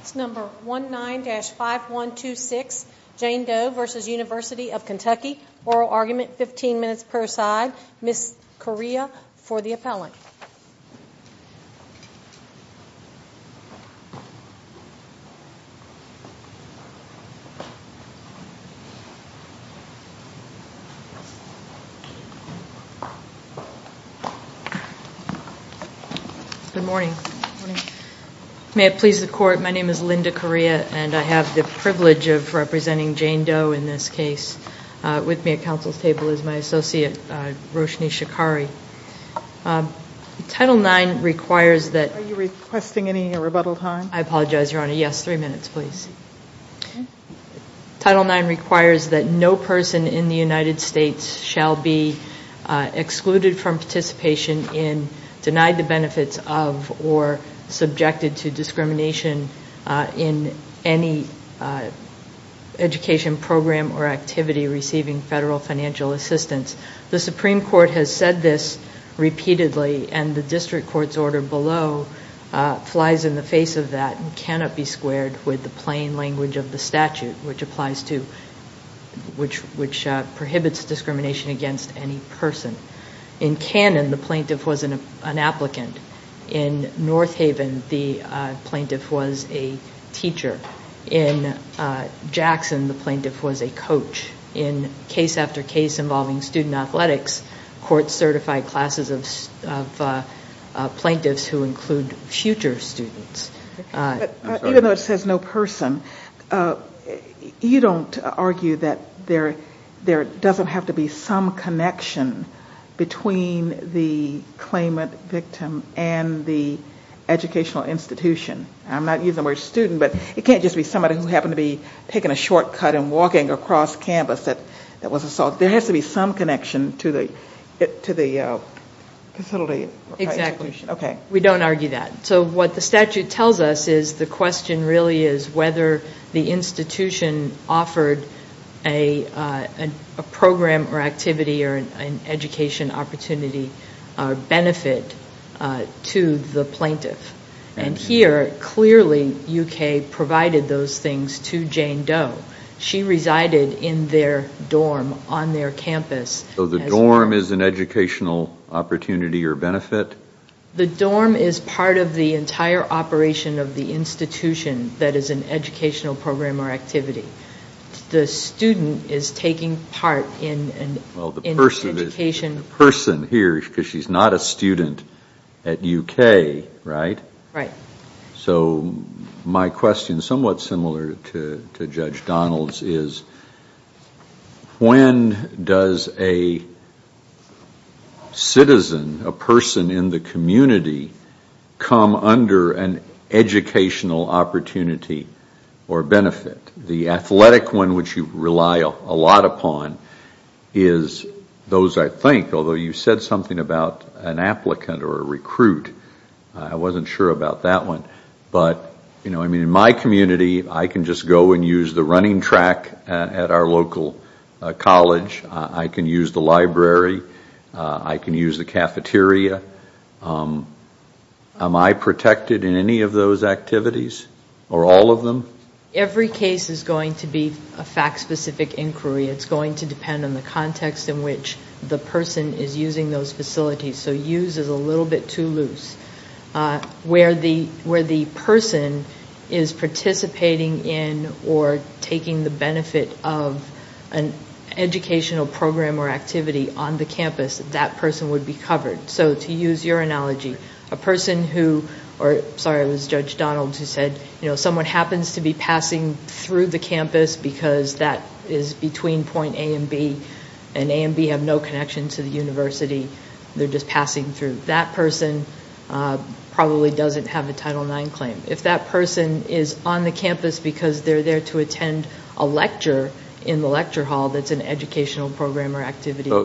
It's number 19-5126, Jane Doe v. University of Kentucky. Oral argument, 15 minutes per side. Ms. Correa for the appellant. Good morning. May it please the court, my name is Linda Correa and I have the privilege of representing Jane Doe in this case. With me at council's table is my associate Roshni Shikari. Title IX requires that... Are you requesting any rebuttal time? I apologize, Your Honor. Yes, three minutes, please. Title IX requires that no person in the United States shall be excluded from participation in, denied the benefits of, or subjected to discrimination in any education program or activity receiving federal financial assistance. The Supreme Court has said this repeatedly and the district court's order below flies in the face of that and cannot be squared with the plain language of the statute, which prohibits discrimination against any person. In Cannon, the plaintiff was an applicant. In North Haven, the plaintiff was a teacher. In Jackson, the plaintiff was a coach. In case after case involving student athletics, courts certified classes of plaintiffs who include future students. Even though it says no person, you don't argue that there doesn't have to be some connection between the claimant victim and the educational institution. I'm not using the word student, but it can't just be somebody who happened to be taking a shortcut and walking across campus that was assaulted. There has to be some connection to the facility. We don't argue that. So what the statute tells us is the question really is whether the institution offered a program or activity or an education opportunity or benefit to the plaintiff. And here, clearly, UK provided those things to Jane Doe. She resided in their dorm on their campus. So the dorm is an educational opportunity or benefit? The dorm is part of the entire operation of the institution that is an educational program or activity. The student is taking part in the education. The person here, because she's not a student at UK, right? Right. Although you said something about an applicant or a recruit. I wasn't sure about that one. But in my community, I can just go and use the running track at our local college. I can use the library. I can use the cafeteria. Am I protected in any of those activities or all of them? Every case is going to be a fact-specific inquiry. It's going to depend on the context in which the person is using those facilities. So use is a little bit too loose. Where the person is participating in or taking the benefit of an educational program or activity on the campus, that person would be covered. So to use your analogy, someone happens to be passing through the campus because that is between point A and B, and A and B have no connection to the university. They're just passing through. That person probably doesn't have a Title IX claim. If that person is on the campus because they're there to attend a lecture in the lecture hall that's an educational program or activity. So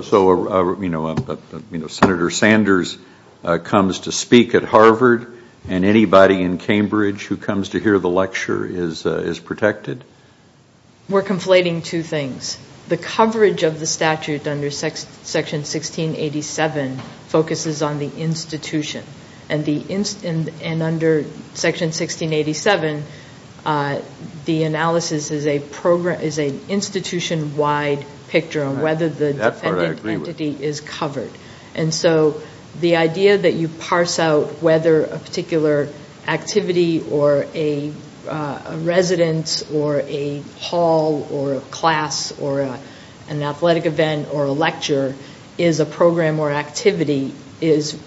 Senator Sanders comes to speak at Harvard and anybody in Cambridge who comes to hear the lecture is protected. We're conflating two things. The coverage of the statute under Section 1687 focuses on the institution. And under Section 1687, the analysis is an institution-wide picture on whether the dependent entity is covered. And so the idea that you parse out whether a particular activity or a residence or a hall or a class or an athletic event or a lecture is a program or activity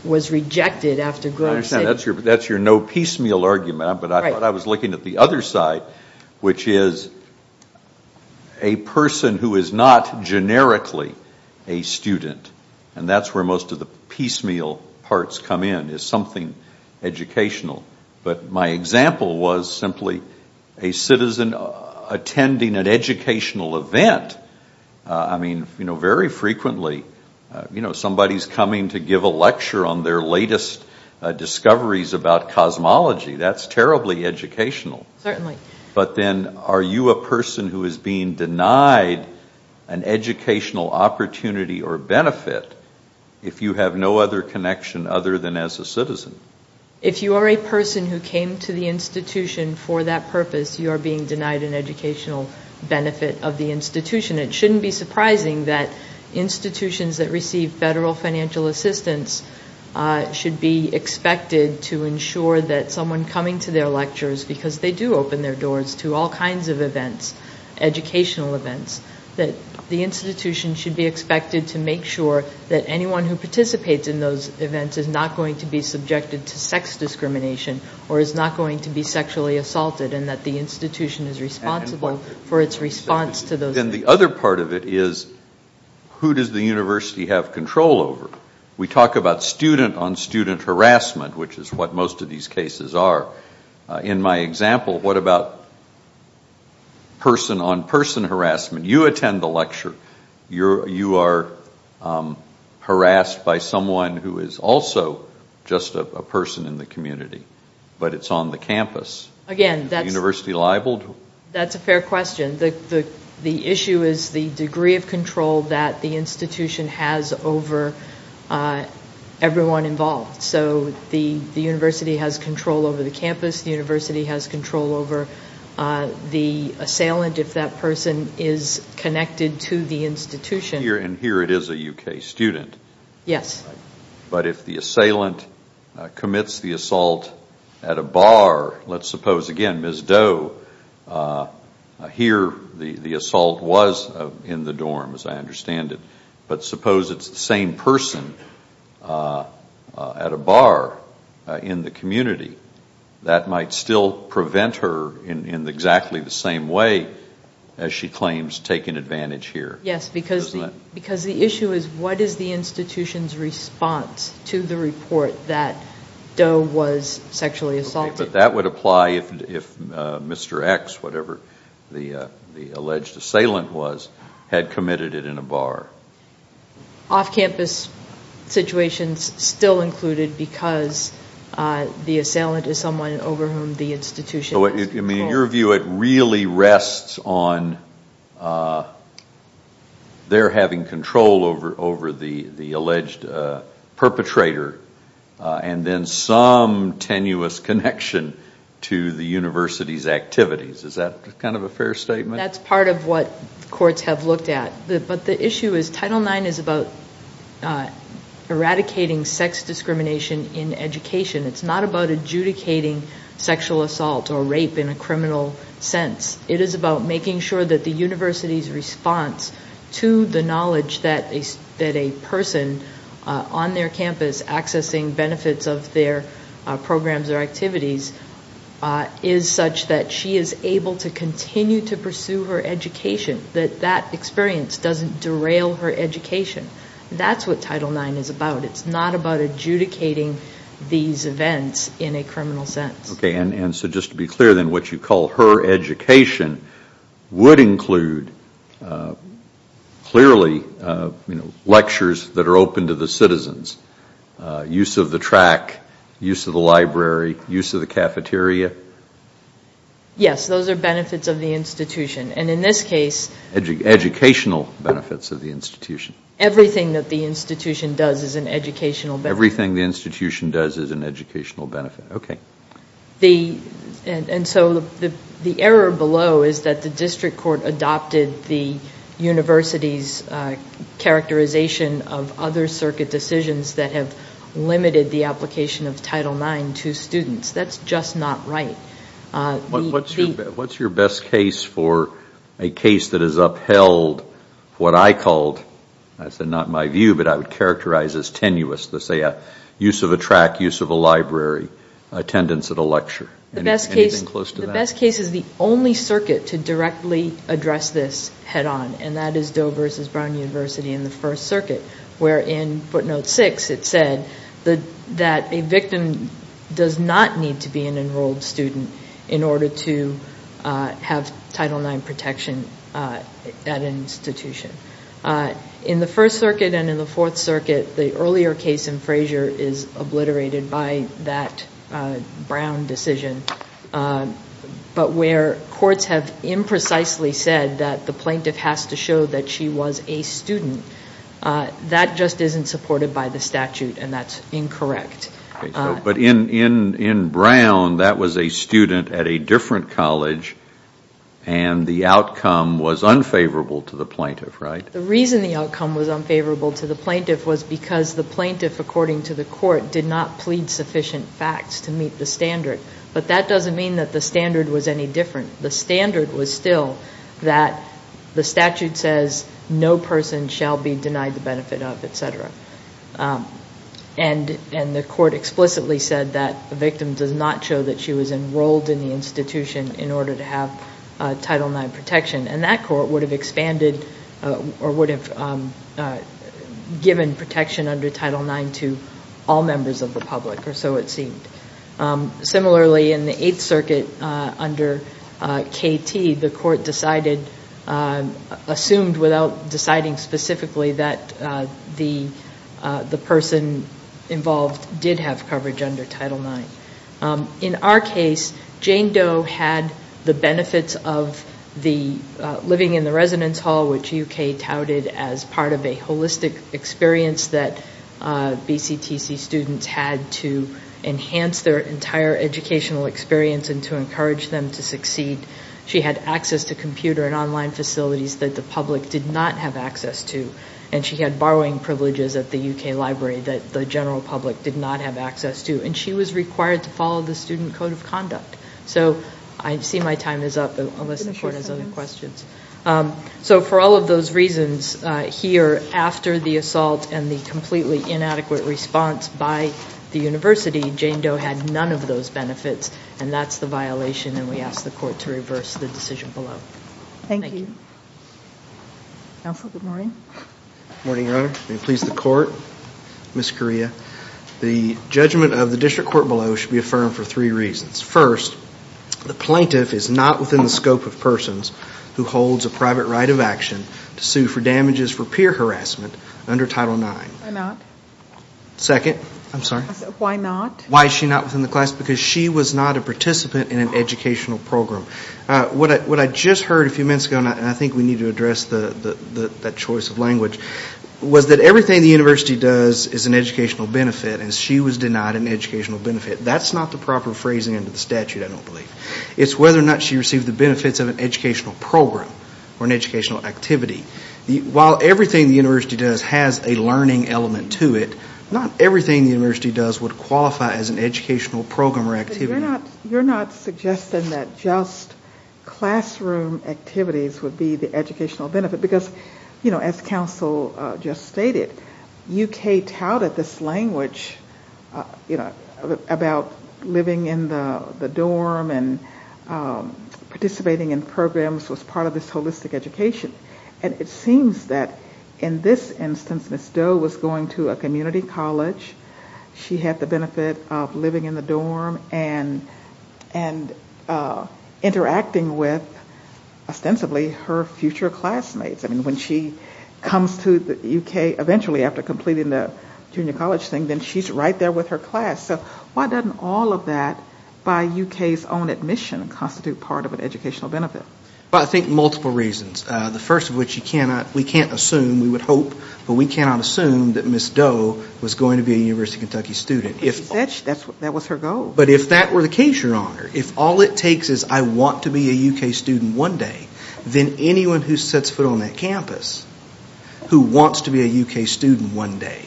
was rejected after Grove City. That's your no piecemeal argument, but I thought I was looking at the other side, which is a person who is not generically a student. And that's where most of the piecemeal parts come in is something educational. But my example was simply a citizen attending an educational event. I mean, very frequently somebody's coming to give a lecture on their latest discoveries about cosmology. That's terribly educational. But then are you a person who is being denied an educational opportunity or benefit if you have no other connection other than as a citizen? If you are a person who came to the institution for that purpose, you are being denied an educational benefit of the institution. It shouldn't be surprising that institutions that receive federal financial assistance should be expected to ensure that someone coming to their lectures, because they do open their doors to all kinds of events, educational events, that the institution should be expected to make sure that anyone who participates in those events is not going to be subjected to sex discrimination or is not going to be sexually assaulted and that the institution is responsible for its response to those events. And the other part of it is who does the university have control over? We talk about student-on-student harassment, which is what most of these cases are. In my example, what about person-on-person harassment? You attend the lecture. You are harassed by someone who is also just a person in the community, but it's on the campus. Is the university liable? That's a fair question. The issue is the degree of control that the institution has over everyone involved. So the university has control over the campus. The university has control over the assailant if that person is connected to the institution. But if the assailant commits the assault at a bar, let's suppose again, Ms. Doe, here the assault was in the dorms, I understand it, but suppose it's the same person at a bar in the community, that might still prevent her in exactly the same way as she claims taking advantage here. Because the issue is what is the institution's response to the report that Doe was sexually assaulted? But that would apply if Mr. X, whatever the alleged assailant was, had committed it in a bar. Off-campus situations still included because the assailant is someone over whom the institution has control. In your view, it really rests on their having control over the alleged perpetrator and then some tenuous connection to the university's activities. Is that kind of a fair statement? That's part of what courts have looked at. But the issue is Title IX is about eradicating sex discrimination in education. It's not about adjudicating sexual assault or rape in a criminal sense. It is about making sure that the university's response to the knowledge that a person on their campus accessing benefits of their programs or activities is such that she is able to continue to pursue her education. That that experience doesn't derail her education. That's what Title IX is about. It's not about adjudicating these events in a criminal sense. Okay. And so just to be clear then, what you call her education would include clearly lectures that are open to the citizens, use of the track, use of the library, use of the cafeteria? Yes. Those are benefits of the institution. And in this case... Educational benefits of the institution. Everything that the institution does is an educational benefit. Everything the institution does is an educational benefit. Okay. And so the error below is that the district court adopted the university's characterization of other circuit decisions that have limited the application of Title IX to students. That's just not right. What's your best case for a case that has upheld what I called, I said not my view, but I would characterize as tenuous, let's say a use of a track, use of a library, attendance at a lecture? The best case... Anything close to that? to have Title IX protection at an institution. In the First Circuit and in the Fourth Circuit, the earlier case in Frazier is obliterated by that Brown decision. But where courts have imprecisely said that the plaintiff has to show that she was a student, that just isn't supported by the statute and that's incorrect. But in Brown, that was a student at a different college and the outcome was unfavorable to the plaintiff, right? The reason the outcome was unfavorable to the plaintiff was because the plaintiff, according to the court, did not plead sufficient facts to meet the standard. But that doesn't mean that the standard was any different. The standard was still that the statute says no person shall be denied the benefit of, etc. And the court explicitly said that the victim does not show that she was enrolled in the institution in order to have Title IX protection. And that court would have expanded or would have given protection under Title IX to all members of the public, or so it seemed. Similarly, in the Eighth Circuit under KT, the court decided, assumed without deciding specifically, that the person involved did have coverage under Title IX. In our case, Jane Doe had the benefits of living in the residence hall, which UK touted as part of a holistic experience that BCTC students had to enhance their entire educational experience and to encourage them to succeed. She had access to computer and online facilities that the public did not have access to. And she had borrowing privileges at the UK library that the general public did not have access to. And she was required to follow the Student Code of Conduct. So I see my time is up, unless the court has other questions. So for all of those reasons, here, after the assault and the completely inadequate response by the university, Jane Doe had none of those benefits. And that's the violation, and we ask the court to reverse the decision below. Thank you. Counsel, good morning. Good morning, Your Honor. May it please the court? Ms. Correa, the judgment of the district court below should be affirmed for three reasons. First, the plaintiff is not within the scope of persons who holds a private right of action to sue for damages for peer harassment under Title IX. Why not? Second, I'm sorry? Why not? Why is she not within the class? Because she was not a participant in an educational program. What I just heard a few minutes ago, and I think we need to address that choice of language, was that everything the university does is an educational benefit, and she was denied an educational benefit. That's not the proper phrasing under the statute, I don't believe. It's whether or not she received the benefits of an educational program or an educational activity. While everything the university does has a learning element to it, not everything the university does would qualify as an educational program or activity. You're not suggesting that just classroom activities would be the educational benefit, because as counsel just stated, UK touted this language about living in the dorm and participating in programs was part of this holistic education. And it seems that in this instance, Ms. Doe was going to a community college. She had the benefit of living in the dorm and interacting with, ostensibly, her future classmates. I mean, when she comes to the UK, eventually after completing the junior college thing, then she's right there with her class. So why doesn't all of that, by UK's own admission, constitute part of an educational benefit? Well, I think multiple reasons. The first of which you cannot, we can't assume, we would hope, but we cannot assume that Ms. Doe was going to be a University of Kentucky student. But she said that was her goal. But if that were the case, Your Honor, if all it takes is I want to be a UK student one day, then anyone who sets foot on that campus, who wants to be a UK student one day,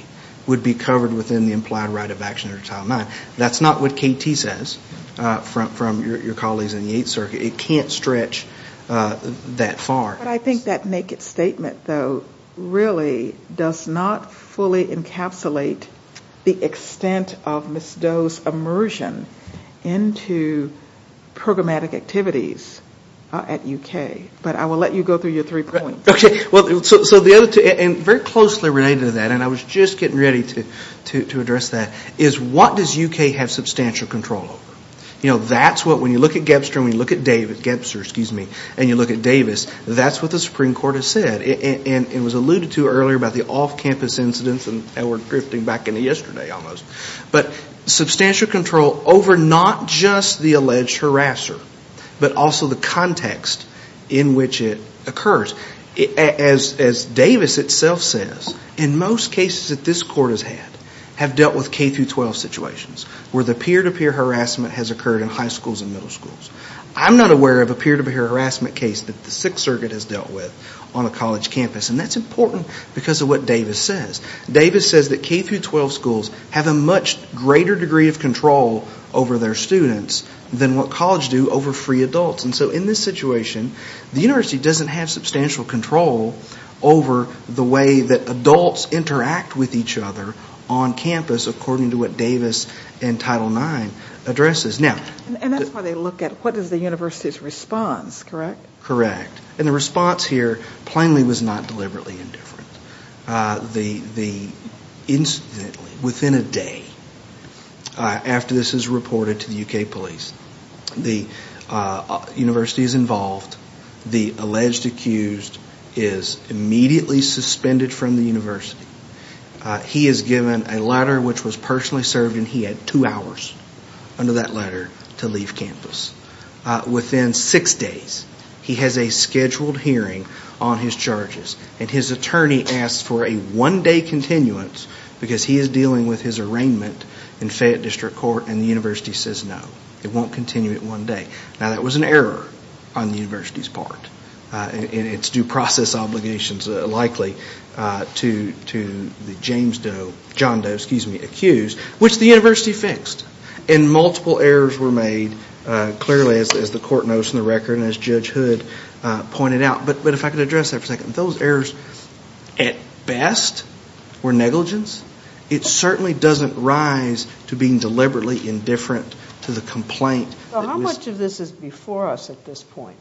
would be covered within the implied right of action under Title IX. That's not what KT says, from your colleagues in the Eighth Circuit. It can't stretch that far. But I think that naked statement, though, really does not fully encapsulate the extent of Ms. Doe's immersion into programmatic activities at UK. But I will let you go through your three points. Okay. Well, so the other two, and very closely related to that, and I was just getting ready to address that, is what does UK have substantial control over? You know, that's what, when you look at Gebster, and you look at Davis, that's what the Supreme Court has said. And it was alluded to earlier about the off-campus incidents, and we're drifting back into yesterday almost. But substantial control over not just the alleged harasser, but also the context in which it occurs. As Davis itself says, in most cases that this Court has had, have dealt with K-12 situations, where the peer-to-peer harassment has occurred in high schools and middle schools. I'm not aware of a peer-to-peer harassment case that the Sixth Circuit has dealt with on a college campus, and that's important because of what Davis says. Davis says that K-12 schools have a much greater degree of control over their students than what colleges do over free adults. And so in this situation, the university doesn't have substantial control over the way that adults interact with each other on campus, according to what Davis in Title IX addresses. And that's why they look at what is the university's response, correct? Correct. And the response here, plainly, was not deliberately indifferent. Incidentally, within a day after this is reported to the UK police, the university is involved, the alleged accused is immediately suspended from the university. He is given a letter which was personally served, and he had two hours under that letter to leave campus. Within six days, he has a scheduled hearing on his charges. And his attorney asks for a one-day continuance because he is dealing with his arraignment in Fayette District Court, and the university says no. It won't continue it one day. Now, that was an error on the university's part. And it's due process obligations likely to the James Doe, John Doe, excuse me, accused, which the university fixed. And multiple errors were made, clearly, as the court notes in the record and as Judge Hood pointed out. But if I could address that for a second. Those errors, at best, were negligence. It certainly doesn't rise to being deliberately indifferent to the complaint. How much of this is before us at this point?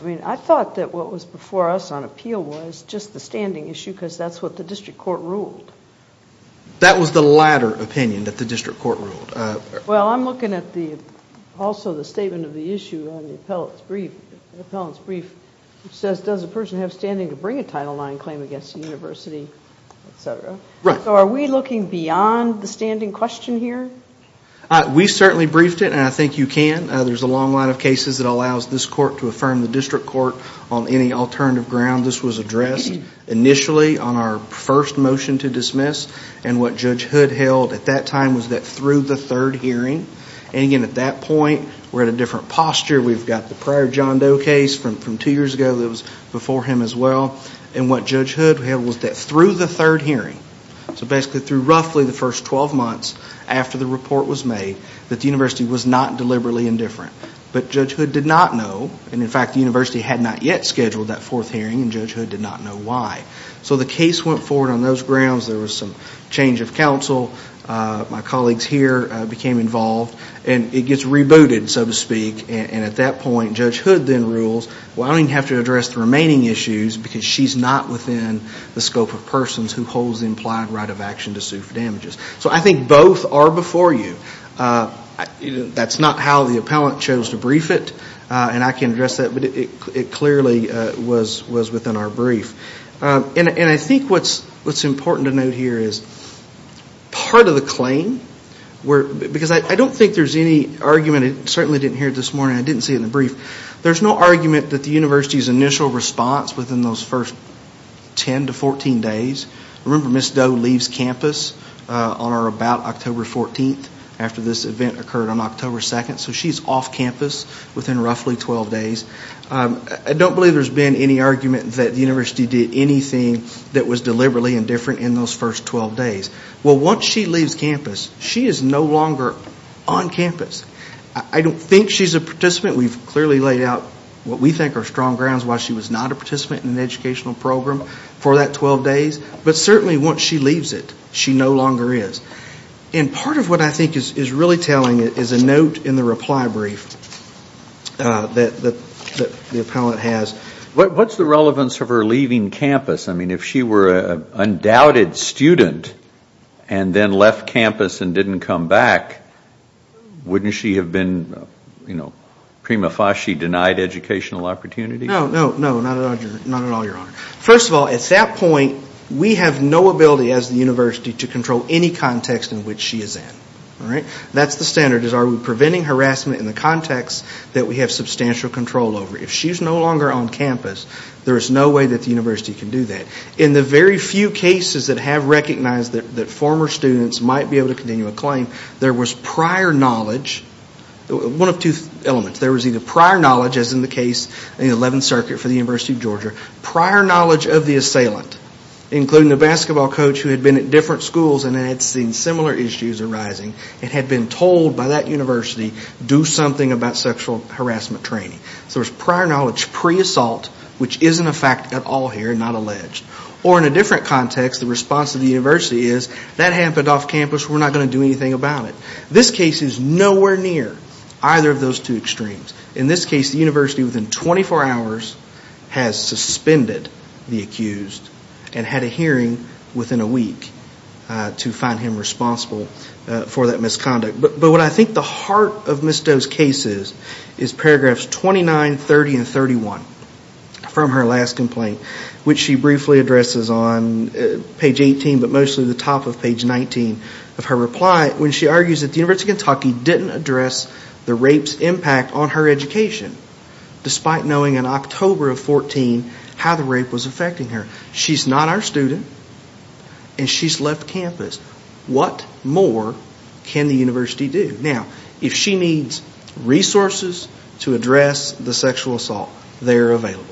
I mean, I thought that what was before us on appeal was just the standing issue because that's what the district court ruled. That was the latter opinion that the district court ruled. Well, I'm looking at also the statement of the issue on the appellant's brief. It says, does a person have standing to bring a Title IX claim against the university, et cetera? Right. So are we looking beyond the standing question here? We certainly briefed it, and I think you can. There's a long line of cases that allows this court to affirm the district court on any alternative ground. This was addressed initially on our first motion to dismiss, and what Judge Hood held at that time was that through the third hearing. And again, at that point, we're at a different posture. We've got the prior John Doe case from two years ago that was before him as well. And what Judge Hood held was that through the third hearing, so basically through roughly the first 12 months after the report was made, that the university was not deliberately indifferent. But Judge Hood did not know. And in fact, the university had not yet scheduled that fourth hearing, and Judge Hood did not know why. So the case went forward on those grounds. There was some change of counsel. My colleagues here became involved, and it gets rebooted, so to speak. And at that point, Judge Hood then rules, well, I don't even have to address the remaining issues because she's not within the scope of persons who hold the implied right of action to sue for damages. So I think both are before you. That's not how the appellant chose to brief it, and I can address that. But it clearly was within our brief. And I think what's important to note here is part of the claim, because I don't think there's any argument. I certainly didn't hear it this morning. I didn't see it in the brief. There's no argument that the university's initial response within those first 10 to 14 days. Remember, Ms. Doe leaves campus on or about October 14th after this event occurred on October 2nd. So she's off campus within roughly 12 days. I don't believe there's been any argument that the university did anything that was deliberately indifferent in those first 12 days. Well, once she leaves campus, she is no longer on campus. I don't think she's a participant. We've clearly laid out what we think are strong grounds why she was not a participant in the educational program for that 12 days. But certainly once she leaves it, she no longer is. And part of what I think is really telling is a note in the reply brief that the appellant has. What's the relevance of her leaving campus? I mean, if she were an undoubted student and then left campus and didn't come back, wouldn't she have been, you know, prima facie denied educational opportunities? No, no, no, not at all, Your Honor. First of all, at that point, we have no ability as the university to control any context in which she is in. All right? That's the standard, is are we preventing harassment in the context that we have substantial control over? If she's no longer on campus, there is no way that the university can do that. In the very few cases that have recognized that former students might be able to continue a claim, there was prior knowledge, one of two elements. There was either prior knowledge, as in the case in the 11th Circuit for the University of Georgia, prior knowledge of the assailant, including the basketball coach who had been at different schools and had seen similar issues arising and had been told by that university, do something about sexual harassment training. So there's prior knowledge pre-assault, which isn't a fact at all here, not alleged. Or in a different context, the response of the university is, that happened off campus, we're not going to do anything about it. This case is nowhere near either of those two extremes. In this case, the university within 24 hours has suspended the accused and had a hearing within a week to find him responsible for that misconduct. But what I think the heart of Ms. Doe's case is, is paragraphs 29, 30, and 31 from her last complaint, which she briefly addresses on page 18, but mostly the top of page 19 of her reply, when she argues that the University of Kentucky didn't address the rape's impact on her education, despite knowing in October of 14 how the rape was affecting her. She's not our student, and she's left campus. What more can the university do? Now, if she needs resources to address the sexual assault, they're available.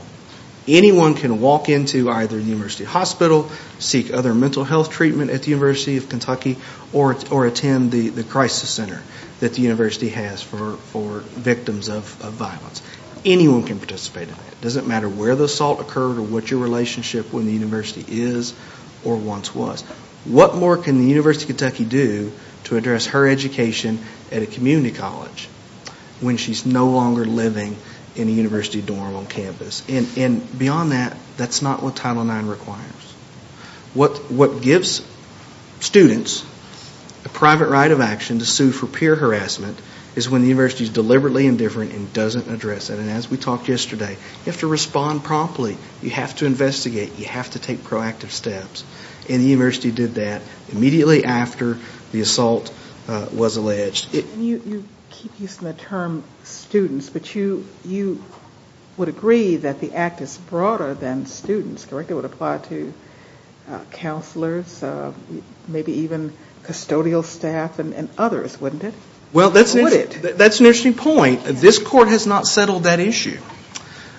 Anyone can walk into either the university hospital, seek other mental health treatment at the University of Kentucky, or attend the crisis center that the university has for victims of violence. Anyone can participate in that. It doesn't matter where the assault occurred or what your relationship with the university is or once was. What more can the University of Kentucky do to address her education at a community college when she's no longer living in a university dorm on campus? And beyond that, that's not what Title IX requires. What gives students a private right of action to sue for peer harassment is when the university's deliberately indifferent and doesn't address it. And as we talked yesterday, you have to respond promptly. You have to investigate. You have to take proactive steps. And the university did that immediately after the assault was alleged. You keep using the term students, but you would agree that the act is broader than students, correct? It would apply to counselors, maybe even custodial staff and others, wouldn't it? Well, that's an interesting point. This court has not settled that issue.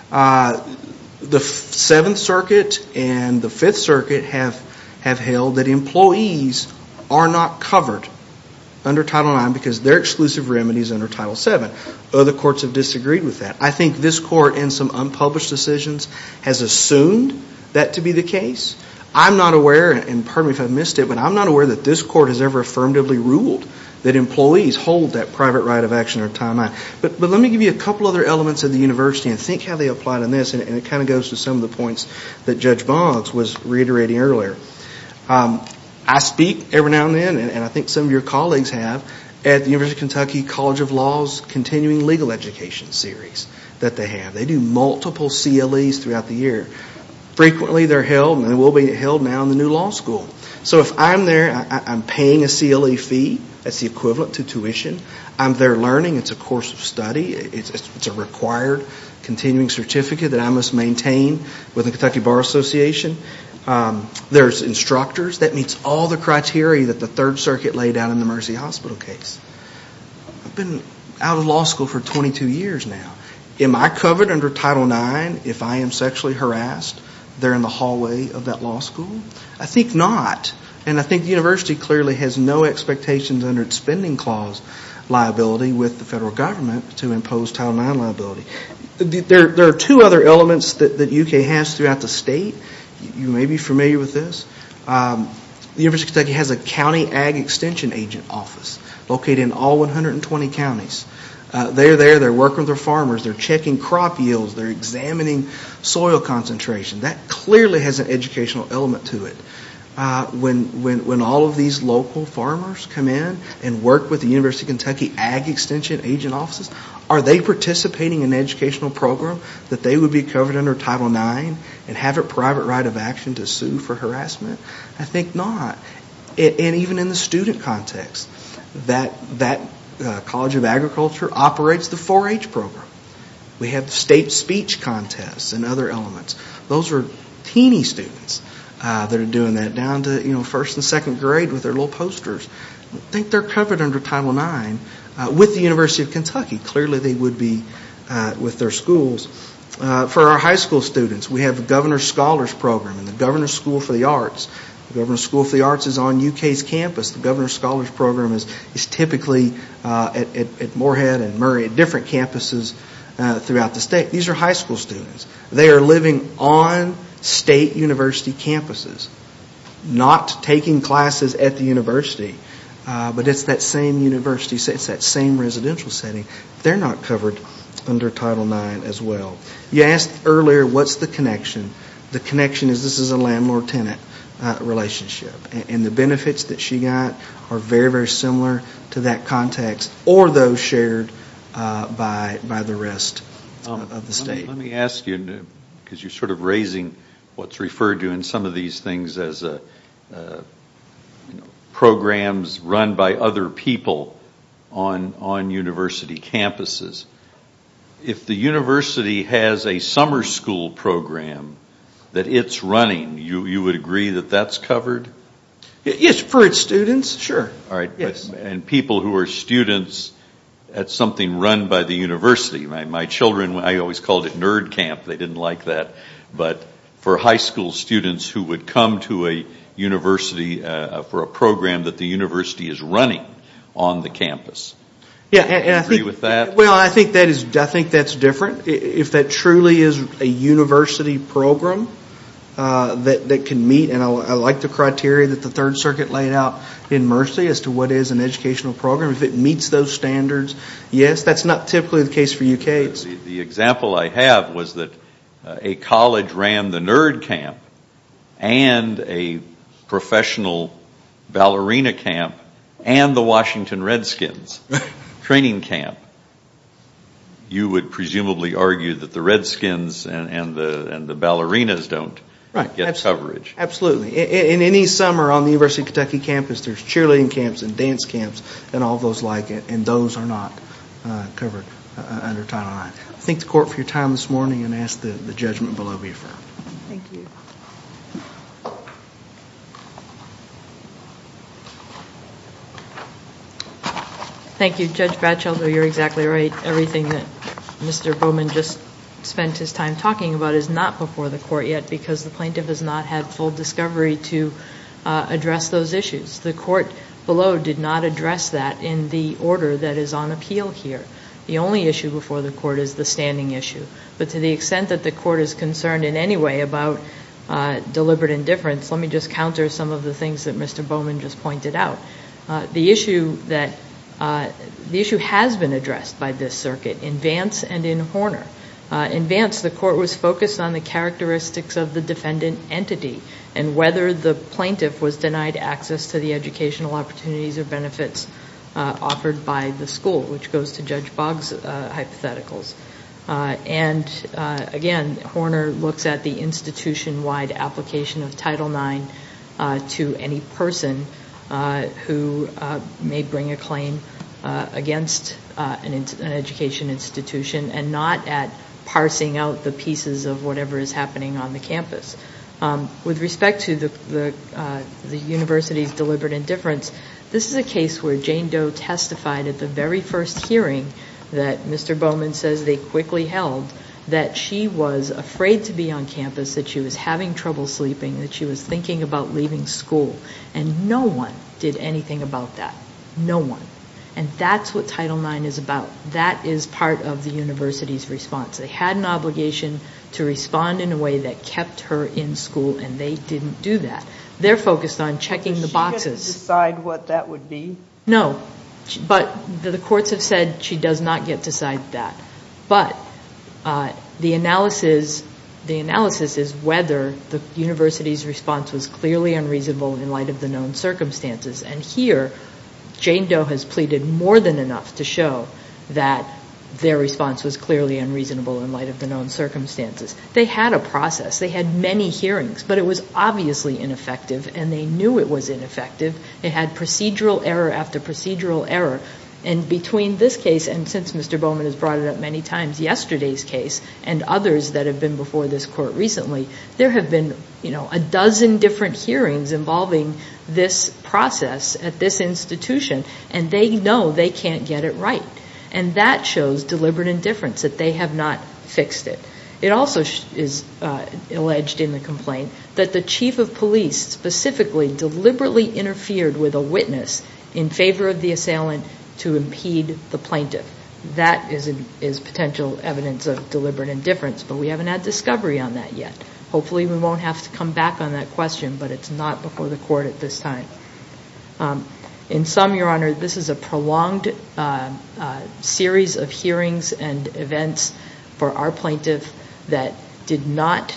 The Seventh Circuit and the Fifth Circuit have held that employees are not covered under Title IX because they're exclusive remedies under Title VII. Other courts have disagreed with that. I think this court in some unpublished decisions has assumed that to be the case. I'm not aware, and pardon me if I've missed it, but I'm not aware that this court has ever affirmatively ruled that employees hold that private right of action under Title IX. But let me give you a couple other elements of the university and think how they apply it in this. And it kind of goes to some of the points that Judge Boggs was reiterating earlier. I speak every now and then, and I think some of your colleagues have, at the University of Kentucky College of Law's Continuing Legal Education Series that they have. They do multiple CLEs throughout the year. Frequently they're held, and they will be held now in the new law school. So if I'm there, I'm paying a CLE fee. That's the equivalent to tuition. I'm there learning. It's a course of study. It's a required continuing certificate that I must maintain with the Kentucky Bar Association. There's instructors. That meets all the criteria that the Third Circuit laid out in the Mercy Hospital case. I've been out of law school for 22 years now. Am I covered under Title IX if I am sexually harassed there in the hallway of that law school? I think not. And I think the university clearly has no expectations under its spending clause liability with the federal government to impose Title IX liability. There are two other elements that UK has throughout the state. You may be familiar with this. The University of Kentucky has a County Ag Extension Agent Office located in all 120 counties. They're there. They're working with their farmers. They're checking crop yields. They're examining soil concentration. That clearly has an educational element to it. When all of these local farmers come in and work with the University of Kentucky Ag Extension Agent Offices, are they participating in an educational program that they would be covered under Title IX and have a private right of action to sue for harassment? I think not. And even in the student context, that College of Agriculture operates the 4-H program. We have state speech contests and other elements. Those are teeny students that are doing that down to first and second grade with their little posters. I think they're covered under Title IX with the University of Kentucky. Clearly they would be with their schools. For our high school students, we have the Governor's Scholars Program and the Governor's School for the Arts. The Governor's School for the Arts is on UK's campus. The Governor's Scholars Program is typically at Moorhead and Murray, at different campuses throughout the state. These are high school students. They are living on state university campuses, not taking classes at the university. But it's that same university. It's that same residential setting. They're not covered under Title IX as well. You asked earlier what's the connection. The connection is this is a landlord-tenant relationship. And the benefits that she got are very, very similar to that context or those shared by the rest of the state. Let me ask you, because you're sort of raising what's referred to in some of these things as programs run by other people on university campuses. If the university has a summer school program that it's running, you would agree that that's covered? Yes, for its students. And people who are students at something run by the university. My children, I always called it nerd camp. They didn't like that. But for high school students who would come to a university for a program that the university is running on the campus, would you agree with that? Well, I think that's different. If that truly is a university program that can meet, and I like the criteria that the Third Circuit laid out in Mercy as to what is an educational program, if it meets those standards, yes, that's not typically the case for UK. The example I have was that a college ran the nerd camp and a professional ballerina camp and the Washington Redskins training camp. You would presumably argue that the Redskins and the ballerinas don't get coverage. Absolutely. In any summer on the University of Kentucky campus, there's cheerleading camps and dance camps and all those like it, and those are not covered under Title IX. I thank the Court for your time this morning and ask that the judgment below be affirmed. Thank you. Thank you. Judge Batchelder, you're exactly right. Everything that Mr. Bowman just spent his time talking about is not before the Court yet because the plaintiff has not had full discovery to address those issues. The Court below did not address that in the order that is on appeal here. The only issue before the Court is the standing issue. But to the extent that the Court is concerned in any way about deliberate indifference, let me just counter some of the things that Mr. Bowman just pointed out. The issue has been addressed by this circuit in Vance and in Horner. In Vance, the Court was focused on the characteristics of the defendant entity and whether the plaintiff was denied access to the educational opportunities or benefits offered by the school, which goes to Judge Boggs' hypotheticals. Again, Horner looks at the institution-wide application of Title IX to any person who may bring a claim against an education institution and not at parsing out the pieces of whatever is happening on the campus. With respect to the university's deliberate indifference, this is a case where Jane Doe testified at the very first hearing that Mr. Bowman says they quickly held that she was afraid to be on campus, that she was having trouble sleeping, that she was thinking about leaving school. And no one did anything about that. No one. And that's what Title IX is about. That is part of the university's response. They had an obligation to respond in a way that kept her in school, and they didn't do that. They're focused on checking the boxes. Did she get to decide what that would be? No, but the courts have said she does not get to decide that. But the analysis is whether the university's response was clearly unreasonable in light of the known circumstances. And here, Jane Doe has pleaded more than enough to show that their response was clearly unreasonable in light of the known circumstances. They had a process. They had many hearings. But it was obviously ineffective, and they knew it was ineffective. They had procedural error after procedural error. And between this case, and since Mr. Bowman has brought it up many times, yesterday's case and others that have been before this court recently, there have been a dozen different hearings involving this process at this institution, and they know they can't get it right. And that shows deliberate indifference, that they have not fixed it. It also is alleged in the complaint that the chief of police specifically deliberately interfered with a witness in favor of the assailant to impede the plaintiff. That is potential evidence of deliberate indifference, but we haven't had discovery on that yet. Hopefully we won't have to come back on that question, but it's not before the court at this time. In sum, Your Honor, this is a prolonged series of hearings and events for our plaintiff that did not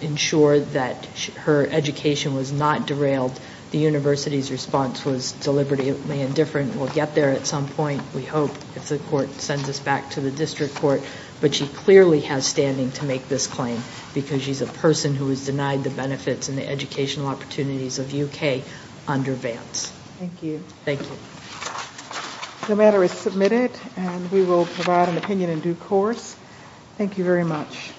ensure that her education was not derailed. The university's response was deliberately indifferent. We'll get there at some point, we hope, if the court sends us back to the district court. But she clearly has standing to make this claim, because she's a person who has denied the benefits and the educational opportunities of UK under Vance. Thank you. Thank you. The matter is submitted, and we will provide an opinion in due course. Thank you very much.